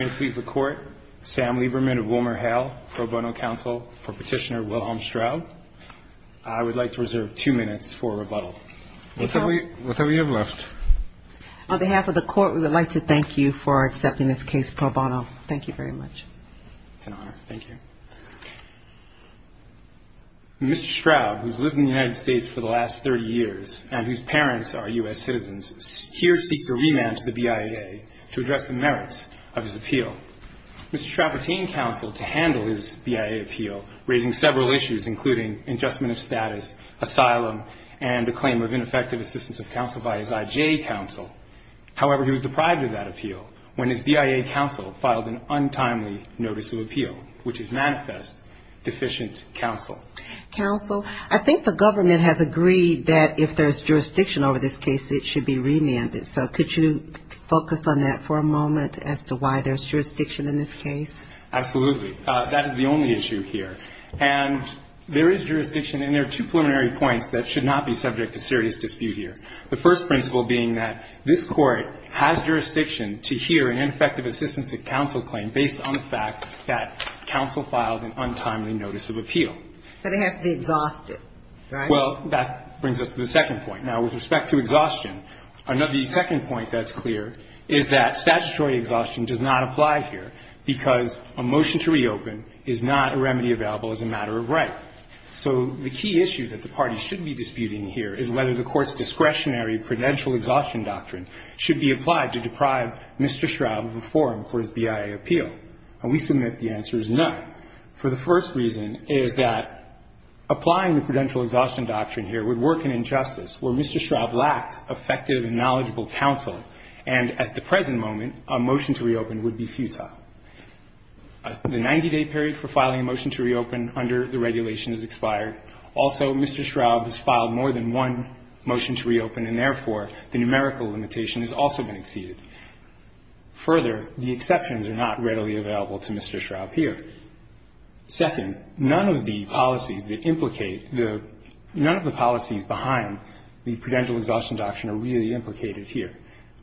Sam Lieberman of WilmerHale, Pro Bono Counsel for Petitioner Wilhelm Straub. I would like to reserve two minutes for rebuttal. What do we have left? On behalf of the Court, we would like to thank you for accepting this case pro bono. Thank you very much. It's an honor. Thank you. Mr. Straub, who has lived in the United States for the last 30 years and whose parents are U.S. citizens, here seeks a remand to the BIA to address the merits of his appeal. Mr. Travertine counseled to handle his BIA appeal, raising several issues, including adjustment of status, asylum, and a claim of ineffective assistance of counsel by his IJ counsel. However, he was deprived of that appeal when his BIA counsel filed an untimely notice of appeal, which is manifest deficient counsel. Counsel, I think the government has agreed that if there's jurisdiction over this case, it should be remanded. So could you focus on that for a moment as to why there's jurisdiction in this case? Absolutely. That is the only issue here. And there is jurisdiction, and there are two preliminary points that should not be subject to serious dispute here. The first principle being that this Court has jurisdiction to hear an ineffective assistance of counsel claim based on the fact that counsel filed an untimely notice of appeal. But it has to be exhausted, right? Well, that brings us to the second point. Now, with respect to exhaustion, the second point that's clear is that statutory exhaustion does not apply here because a motion to reopen is not a remedy available as a matter of right. So the key issue that the parties should be disputing here is whether the Court's discretionary prudential exhaustion doctrine should be applied to deprive Mr. Straub of a forum for his BIA appeal. And we submit the answer is no. For the first reason is that applying the prudential exhaustion doctrine here would work in injustice where Mr. Straub lacks effective and knowledgeable counsel, and at the present moment, a motion to reopen would be futile. The 90-day period for filing a motion to reopen under the regulation is expired. Also, Mr. Straub has filed more than one motion to reopen, and therefore, the numerical limitation has also been exceeded. Further, the exceptions are not readily available to Mr. Straub here. Second, none of the policies that implicate the – none of the policies behind the prudential exhaustion doctrine are really implicated here.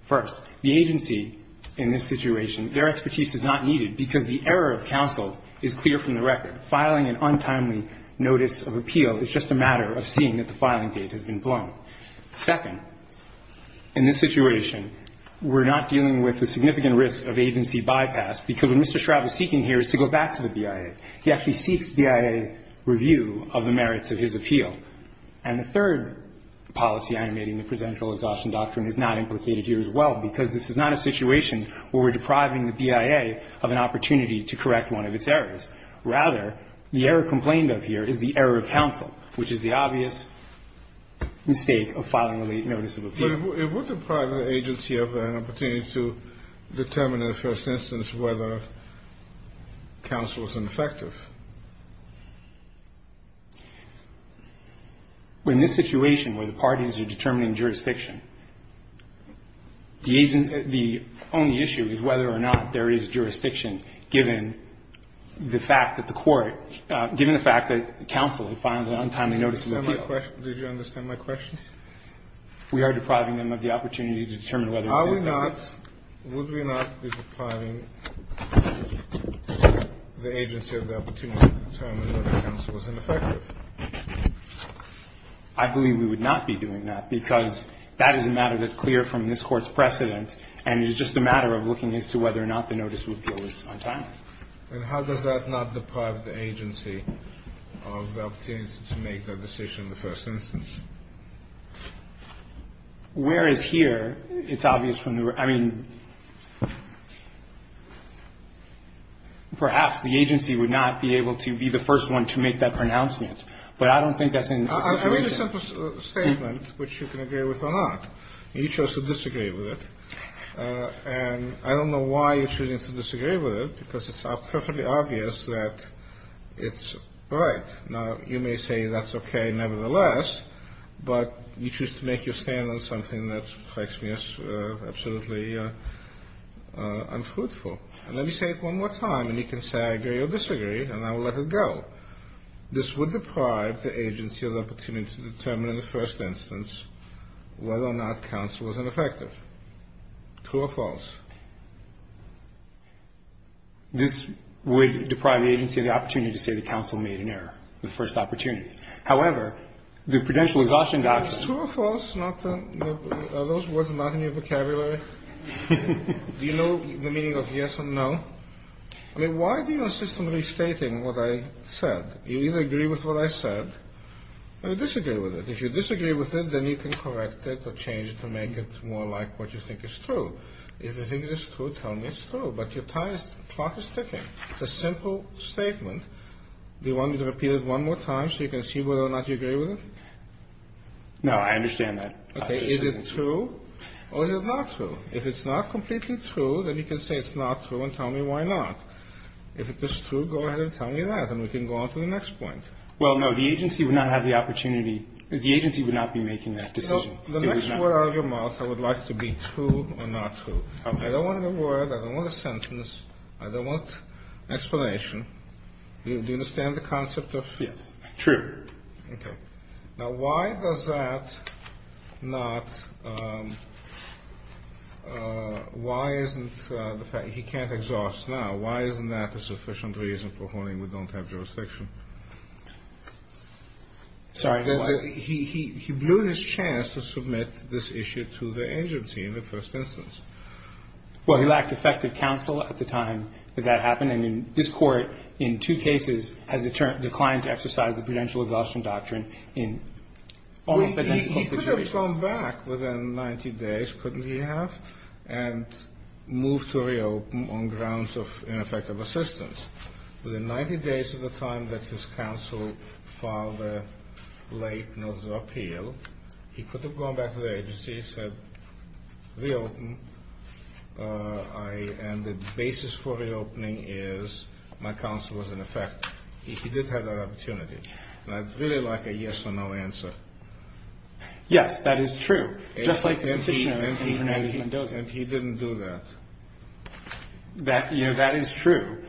First, the agency in this situation, their expertise is not needed because the error of counsel is clear from the record. Filing an untimely notice of appeal is just a matter of seeing that the filing date has been blown. Second, in this situation, we're not dealing with the significant risk of agency bypass because what Mr. Straub is seeking here is to go back to the BIA. He actually seeks BIA review of the merits of his appeal. And the third policy animating the prudential exhaustion doctrine is not implicated here as well because this is not a situation where we're depriving the BIA of an opportunity to correct one of its errors. Rather, the error complained of here is the error of counsel, which is the obvious mistake of filing a late notice of appeal. Kennedy. But it would deprive the agency of an opportunity to determine in the first instance whether counsel is ineffective. Well, in this situation where the parties are determining jurisdiction, the agent – the only issue is whether or not there is jurisdiction, given the fact that the court – given the fact that counsel had filed an untimely notice of appeal. Did you understand my question? We are depriving them of the opportunity to determine whether or not there is jurisdiction. Are we not – would we not be depriving the agency of the opportunity to determine whether counsel is ineffective? I believe we would not be doing that because that is a matter that's clear from this Court's precedent, and it is just a matter of looking as to whether or not the notice of appeal is untimely. And how does that not deprive the agency of the opportunity to make that decision in the first instance? Whereas here, it's obvious from the – I mean, perhaps the agency would not be able to be the first one to make that pronouncement, but I don't think that's in the situation. I mean, it's a simple statement which you can agree with or not. You chose to disagree with it, and I don't know why you're choosing to disagree with it because it's perfectly obvious that it's right. Now, you may say that's okay nevertheless, but you choose to make your stand on something that strikes me as absolutely unfruitful. And let me say it one more time, and you can say I agree or disagree, and I will let it go. This would deprive the agency of the opportunity to determine in the first instance whether or not counsel is ineffective. True or false? This would deprive the agency of the opportunity to say the counsel made an error, the first opportunity. However, the prudential exhaustion – True or false? Are those words not in your vocabulary? Do you know the meaning of yes and no? I mean, why are you systematically stating what I said? You either agree with what I said or disagree with it. If you disagree with it, then you can correct it or change it to make it more like what you think is true. If you think it is true, tell me it's true. But your clock is ticking. It's a simple statement. Do you want me to repeat it one more time so you can see whether or not you agree with it? No, I understand that. Okay. Is it true or is it not true? If it's not completely true, then you can say it's not true and tell me why not. If it's true, go ahead and tell me that, and we can go on to the next point. Well, no, the agency would not have the opportunity – the agency would not be making that decision. Well, the next word out of your mouth, I would like to be true or not true. Okay. I don't want a word. I don't want a sentence. I don't want explanation. Do you understand the concept of – Yes. True. Okay. Now, why does that not – why isn't the fact – he can't exhaust now. Why isn't that a sufficient reason for holding we don't have jurisdiction? Sorry, what? He blew his chance to submit this issue to the agency in the first instance. Well, he lacked effective counsel at the time that that happened, and this Court in two cases has declined to exercise the prudential exhaustion doctrine in almost identical situations. Well, he could have gone back within 90 days, couldn't he have, and moved to reopen on grounds of ineffective assistance. Within 90 days of the time that his counsel filed the late notice of appeal, he could have gone back to the agency, said reopen, and the basis for reopening is my counsel was ineffective. He did have that opportunity. And I'd really like a yes or no answer. Yes, that is true, just like the petitioner in Hernandez-Mendoza. And he didn't do that. That, you know, that is true.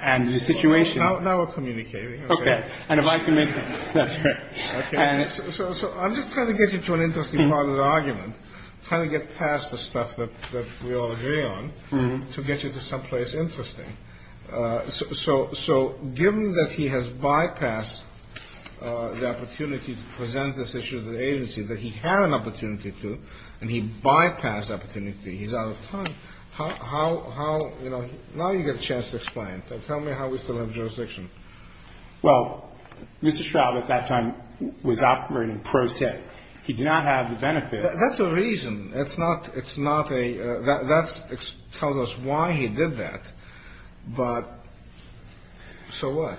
And the situation – Now we're communicating. Okay. And if I can make – that's right. Okay. So I'm just trying to get you to an interesting part of the argument, trying to get past the stuff that we all agree on to get you to someplace interesting. So given that he has bypassed the opportunity to present this issue to the agency that he had an opportunity to, and he bypassed opportunity, he's out of time, how – you know, now you get a chance to explain. Tell me how we still have jurisdiction. Well, Mr. Straub at that time was operating pro se. He did not have the benefit. That's the reason. It's not a – that tells us why he did that. But so what?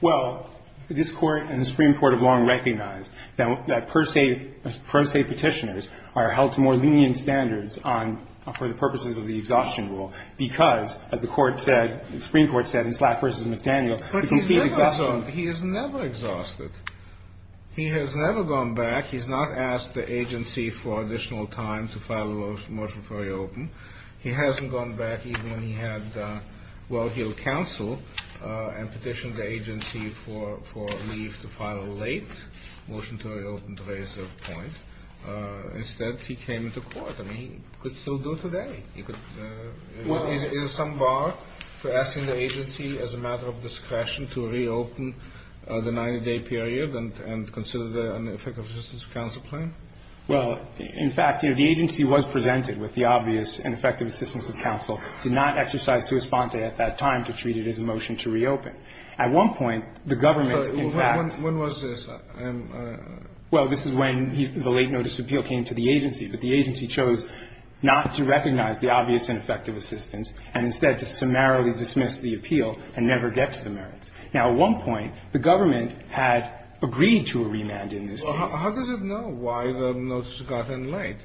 Well, this Court and the Supreme Court have long recognized that pro se petitioners are held to more lenient standards on – for the purposes of the exhaustion rule because, as the Court said – the Supreme Court said in Slack v. McDaniel, the complete exhaustion – But he's never exhausted. He has never gone back. He's not asked the agency for additional time to file a motion for reopen. He hasn't gone back even when he had well-heeled counsel and petitioned the agency for leave to file a late motion to reopen to raise the point. Instead, he came into court. I mean, he could still do today. He could – is there some bar for asking the agency as a matter of discretion to reopen the 90-day period and consider an effective assistance counsel claim? Well, in fact, you know, the agency was presented with the obvious and effective assistance of counsel, did not exercise sua sponte at that time to treat it as a motion to reopen. At one point, the government, in fact – When was this? Well, this is when the late notice of appeal came to the agency. But the agency chose not to recognize the obvious and effective assistance and instead to summarily dismiss the appeal and never get to the merits. Now, at one point, the government had agreed to a remand in this case. How does it know why the notice got in late?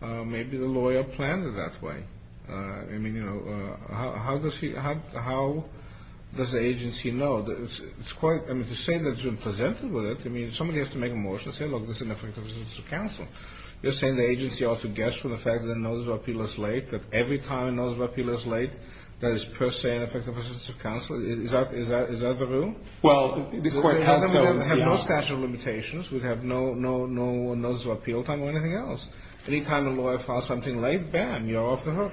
Maybe the lawyer planned it that way. I mean, you know, how does he – how does the agency know? It's quite – I mean, to say that it's been presented with it, I mean, somebody has to make a motion and say, look, this is an effective assistance of counsel. You're saying the agency ought to guess from the fact that the notice of appeal is late, that every time a notice of appeal is late, that it's per se an effective assistance of counsel? Is that the rule? Well, it's court counsel. We have no statute of limitations. We have no notice of appeal time or anything else. Any time a lawyer files something late, bam, you're off the hook.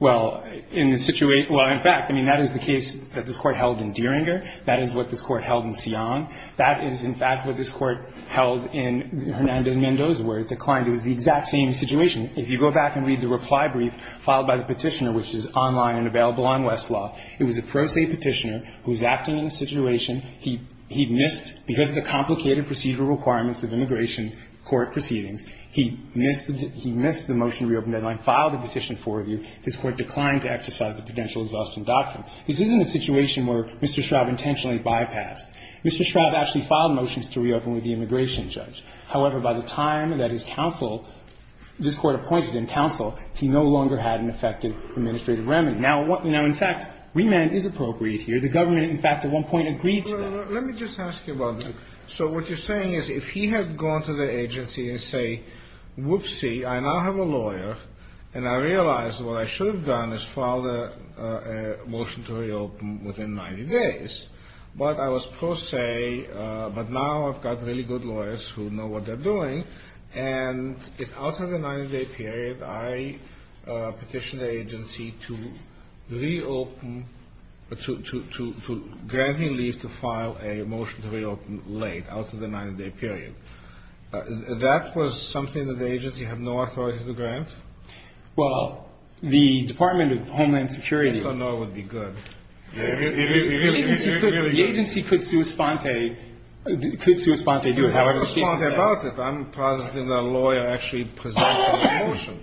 Well, in the situation – well, in fact, I mean, that is the case that this Court held in Dieringer. That is what this Court held in Sion. That is, in fact, what this Court held in Hernandez-Mendoza, where it declined. It was the exact same situation. If you go back and read the reply brief filed by the Petitioner, which is online and available on Westlaw, it was a pro se Petitioner who was acting in a situation. He missed – because of the complicated procedural requirements of immigration court proceedings, he missed the – he missed the motion to reopen deadline, filed a petition for review. This Court declined to exercise the potential exhaustion doctrine. This isn't a situation where Mr. Schraub intentionally bypassed. Mr. Schraub actually filed motions to reopen with the immigration judge. However, by the time that his counsel – this Court appointed him counsel, he no longer had an effective administrative remedy. Now, what – now, in fact, remand is appropriate here. The government, in fact, at one point agreed to that. Let me just ask you about that. So what you're saying is if he had gone to the agency and say, whoopsie, I now have a lawyer, and I realize what I should have done is filed a motion to reopen within 90 days, but I was pro se, but now I've got really good lawyers who know what they're doing. And if out of the 90-day period I petitioned the agency to reopen – to grant me leave to file a motion to reopen late, out of the 90-day period, that was something that the agency had no authority to grant? Well, the Department of Homeland Security – So no, it would be good. It really – it really would be good. The agency could – the agency could sui sponte. It could sui sponte. So you have a sui sponte. I'm not sui sponte about it. I'm positive that a lawyer actually presents a motion,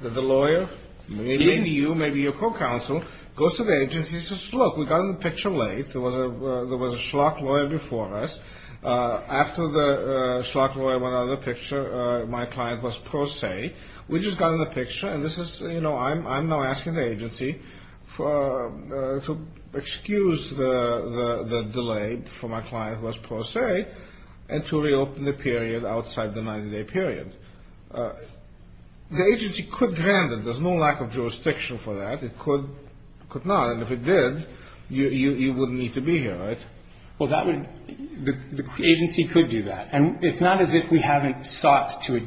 that the lawyer, maybe you, maybe your co-counsel, goes to the agency and says, look, we got in the picture late. There was a schlock lawyer before us. After the schlock lawyer went out of the picture, my client was pro se. We just got in the picture, and this is – you know, I'm now asking the agency to excuse the delay for my client who was pro se and to reopen the period outside the 90-day period. The agency could grant it. There's no lack of jurisdiction for that. It could not. And if it did, you wouldn't need to be here, right? Well, that would – the agency could do that. And it's not as if we haven't sought to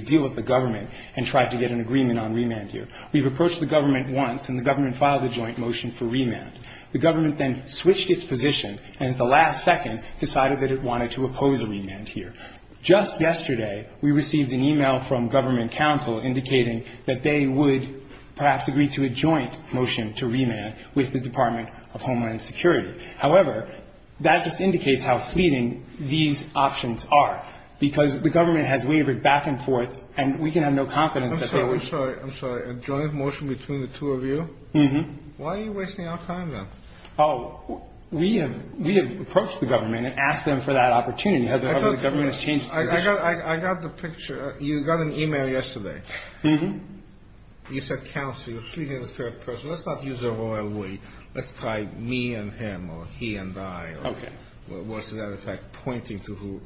deal with the government and tried to get an agreement on remand here. We've approached the government once, and the government filed a joint motion for remand. The government then switched its position and at the last second decided that it wanted to oppose a remand here. Just yesterday, we received an e-mail from government counsel indicating that they would perhaps agree to a joint motion to remand with the Department of Homeland Security. However, that just indicates how fleeting these options are, because the government has wavered back and forth, and we can have no confidence that they would – I'm sorry. I'm sorry. A joint motion between the two of you? Mm-hmm. Why are you wasting our time, then? Oh, we have – we have approached the government and asked them for that opportunity. However, the government has changed its position. I got the picture. You got an e-mail yesterday. Mm-hmm. You said counsel. You're treating it as a third person. Let's not use the royal way. Let's try me and him or he and I. Okay. Or, as a matter of fact, pointing to who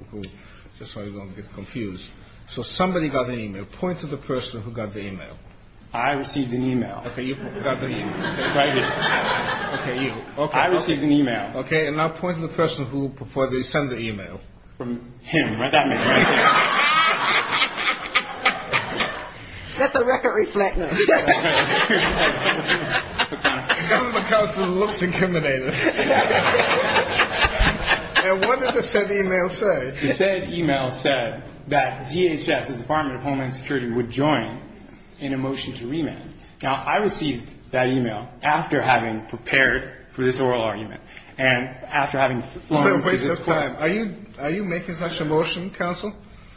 – just so I don't get confused. So somebody got an e-mail. Point to the person who got the e-mail. I received an e-mail. Okay. You got the e-mail. Right here. Okay. You. Okay. I received an e-mail. Okay. And now point to the person who – before they send the e-mail. Him. That man right there. That's a record reflector. The government counsel looks intimidated. And what did the said e-mail say? The said e-mail said that DHS, the Department of Homeland Security, would join in a motion to remand. Now, I received that e-mail after having prepared for this oral argument and after having flown to this court. Wait a second. Are you making such a motion, counsel?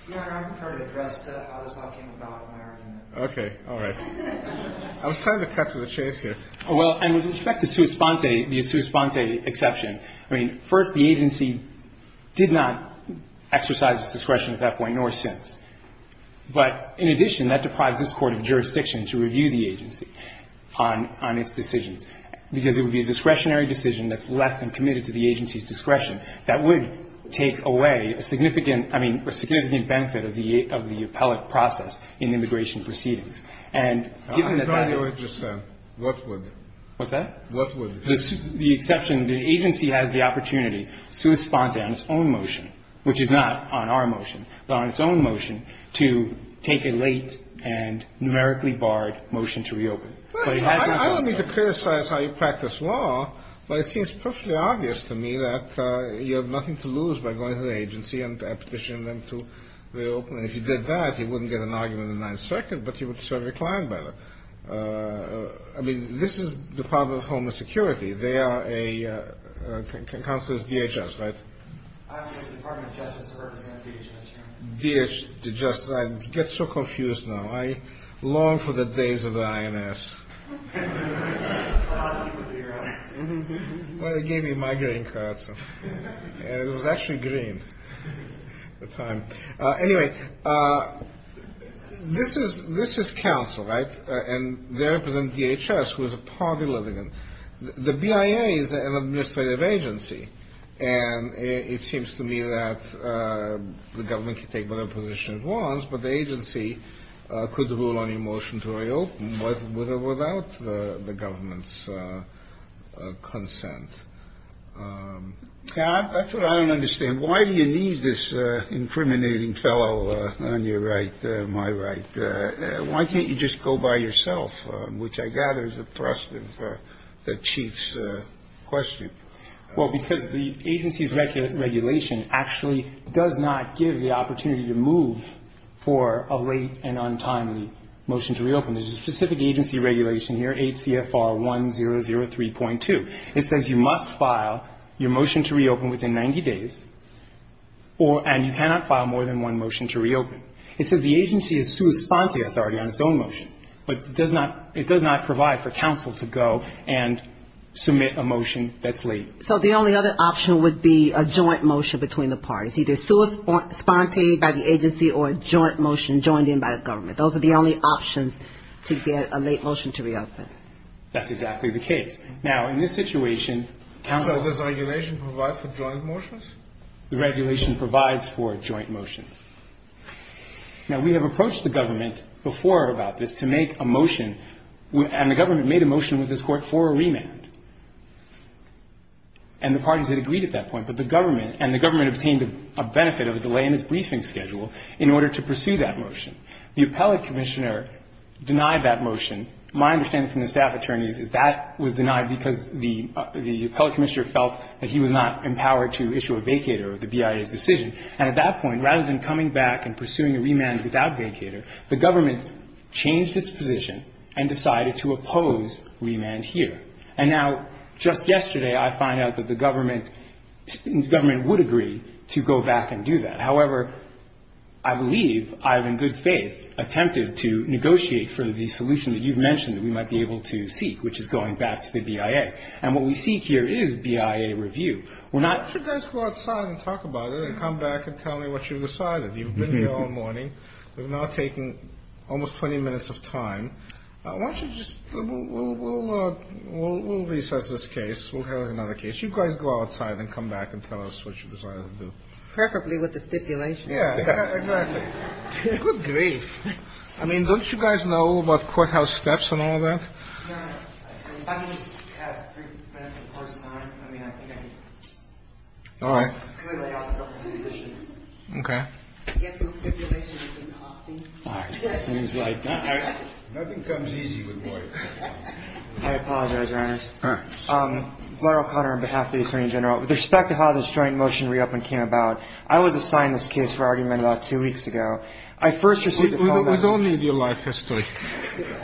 Your Honor, I'm prepared to address how this all came about in my argument. Okay. All right. I was trying to cut to the chase here. Well, and with respect to sua sponte, the sua sponte exception, I mean, first, the agency did not exercise its discretion at that point nor since. But in addition, that deprived this court of jurisdiction to review the agency on its decisions, because it would be a discretionary decision that's left and committed to the agency's discretion that would take away a significant – I mean, a significant benefit of the appellate process in immigration proceedings. And given that that is – I'm trying to understand. What would? What's that? What would? The exception – the agency has the opportunity, sua sponte, on its own motion, which is not on our motion, but on its own motion, to take a late and numerically barred motion to reopen. Well, I don't mean to criticize how you practice law, but it seems perfectly obvious to me that you have nothing to lose by going to the agency and petitioning them to reopen. And if you did that, you wouldn't get an argument in the Ninth Circuit, but you would serve your client better. I mean, this is Department of Homeland Security. They are a – counsel is DHS, right? I'm with the Department of Justice. I represent DHS. DHS. I get so confused now. I long for the days of the INS. A lot of people do, right? Well, they gave me a migraine card, so – and it was actually green at the time. Anyway, this is – this is counsel, right? And they represent DHS, who is a party litigant. The BIA is an administrative agency, and it seems to me that the government can take whatever position it wants, but the agency could rule on a motion to reopen with or without the government's consent. That's what I don't understand. Why do you need this incriminating fellow on your right, my right? Why can't you just go by yourself, which I gather is a thrust of the Chief's question? Well, because the agency's regulation actually does not give the opportunity to move for a late and untimely motion to reopen. There's a specific agency regulation here, 8 CFR 1003.2. It says you must file your motion to reopen within 90 days, and you cannot file more than one motion to reopen. It says the agency is sua sponte authority on its own motion, but it does not provide for counsel to go and submit a motion that's late. So the only other option would be a joint motion between the parties, either sua sponte by the agency or a joint motion joined in by the government. Those are the only options to get a late motion to reopen. That's exactly the case. Now, in this situation, counsel – So does regulation provide for joint motions? The regulation provides for joint motions. Now, we have approached the government before about this to make a motion, and the government made a motion with this Court for a remand. And the parties had agreed at that point, but the government – and the government obtained a benefit of a delay in its briefing schedule in order to pursue that motion. The appellate commissioner denied that motion. My understanding from the staff attorneys is that was denied because the appellate commissioner felt that he was not empowered to issue a vacater of the BIA's decision. And at that point, rather than coming back and pursuing a remand without vacater, the government changed its position and decided to oppose remand here. And now, just yesterday, I find out that the government – the government would agree to go back and do that. However, I believe I have in good faith attempted to negotiate for the solution that you've mentioned that we might be able to seek, which is going back to the BIA. And what we seek here is BIA review. We're not – Well, why don't you come back and tell me what you've decided. You've been here all morning. We've now taken almost 20 minutes of time. Why don't you just – we'll recess this case. We'll have another case. You guys go outside and come back and tell us what you decided to do. Perfectly with the stipulation. Yeah, exactly. Good grief. I mean, don't you guys know about courthouse steps and all that? Your Honor, if I can just have three minutes of course time. I mean, I think I can clearly lay out the government's position. Okay. I guess the stipulation you can copy. All right. Seems like it. Nothing comes easy with lawyers. I apologize, Your Honor. All right. Gloria O'Connor on behalf of the Attorney General. With respect to how this joint motion re-opening came about, I was assigned this case for argument about two weeks ago. I first received a phone message. We don't need your life history.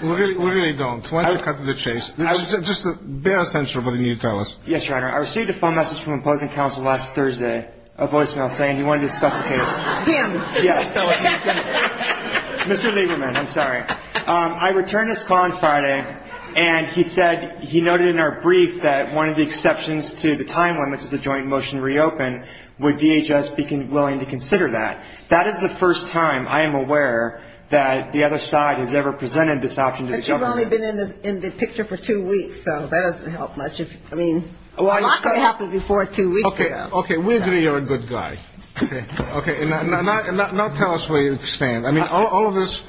We really don't. Why don't we cut to the chase? Just bear with us until you tell us. Yes, Your Honor. I received a phone message from opposing counsel last Thursday, a voicemail saying he wanted to discuss the case. Him. Yes. Mr. Lieberman, I'm sorry. I returned his call on Friday, and he said he noted in our brief that one of the exceptions to the time limits is a joint motion re-open. Would DHS be willing to consider that? That is the first time I am aware that the other side has ever presented this option to the government. But you've only been in the picture for two weeks, so that doesn't help much. I mean, a lot could happen before two weeks ago. Okay. We agree you're a good guy. Okay. Now tell us where you stand. I mean, all of this,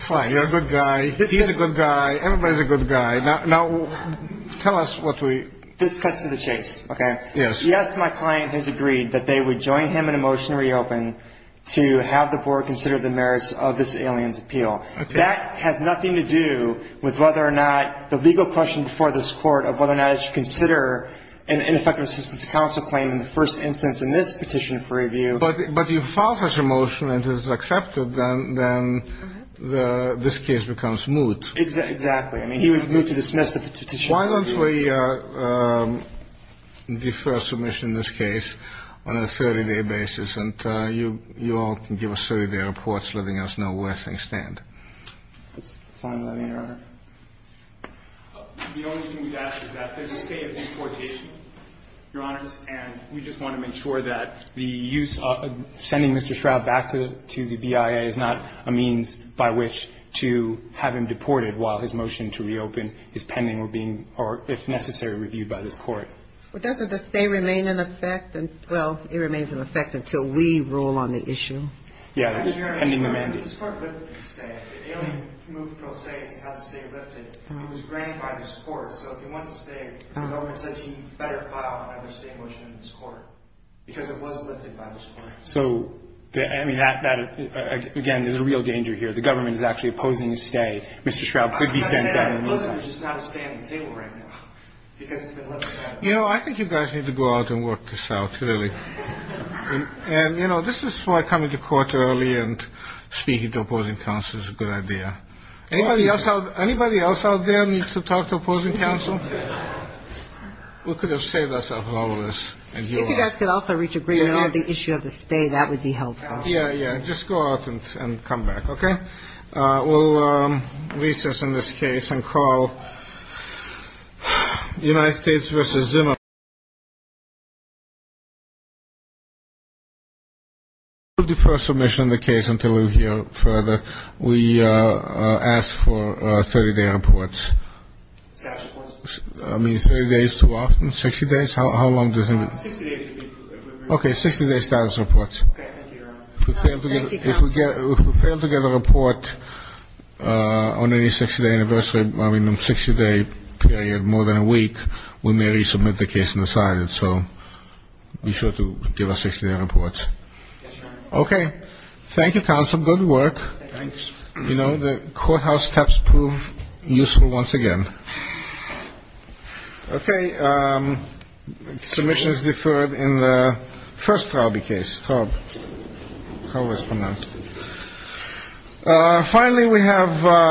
fine, you're a good guy. He's a good guy. Everybody's a good guy. Now tell us what we. This cuts to the chase, okay? Yes. Yes, my client has agreed that they would join him in a motion re-open to have the board consider the merits of this alien's appeal. That has nothing to do with whether or not the legal question before this Court of whether or not it should consider an ineffective assistance to counsel claim in the first instance in this petition for review. But you file such a motion and it is accepted, then this case becomes moot. Exactly. I mean, he would move to dismiss the petition. Why don't we defer submission in this case on a 30-day basis, and you all can give us 30-day reports, letting us know where things stand. That's fine with me, Your Honor. The only thing we'd ask is that there's a state of deportation, Your Honors, and we just want to make sure that the use of sending Mr. Shroud back to the BIA is not a means by which to have him deported while his motion to re-open is pending or being, if necessary, reviewed by this Court. Well, doesn't the stay remain in effect? Well, it remains in effect until we rule on the issue. Yeah, pending remanded. This Court lifted the stay. The alien moved pro se to have the stay lifted. It was granted by this Court. So if he wants to stay, the government says he better file another stay motion in this Court, because it was lifted by this Court. So, I mean, that, again, is a real danger here. The government is actually opposing the stay. Mr. Shroud could be sent back. You know, I think you guys need to go out and work this out, really. And, you know, this is why coming to court early and speaking to opposing counsel is a good idea. Anybody else out there needs to talk to opposing counsel? We could have saved ourselves all of this. If you guys could also reach agreement on the issue of the stay, that would be helpful. Yeah, yeah. Just go out and come back, okay? We'll recess in this case and call United States v. Zimmer. We'll defer submission of the case until we hear further. We ask for 30-day reports. Status reports. I mean, 30 days too often? 60 days? How long do you think it would be? 60 days would be appropriate. Okay, 60-day status reports. Okay, thank you, Your Honor. If we fail to get a report on any 60-day anniversary, I mean 60-day period more than a week, we may resubmit the case and decide it. So be sure to give us 60-day reports. Yes, Your Honor. Okay. Thank you, counsel. Good work. Thanks. You know, the courthouse steps prove useful once again. Okay. Submission is deferred in the first Traube case. Traube. How was it pronounced? Finally, we have.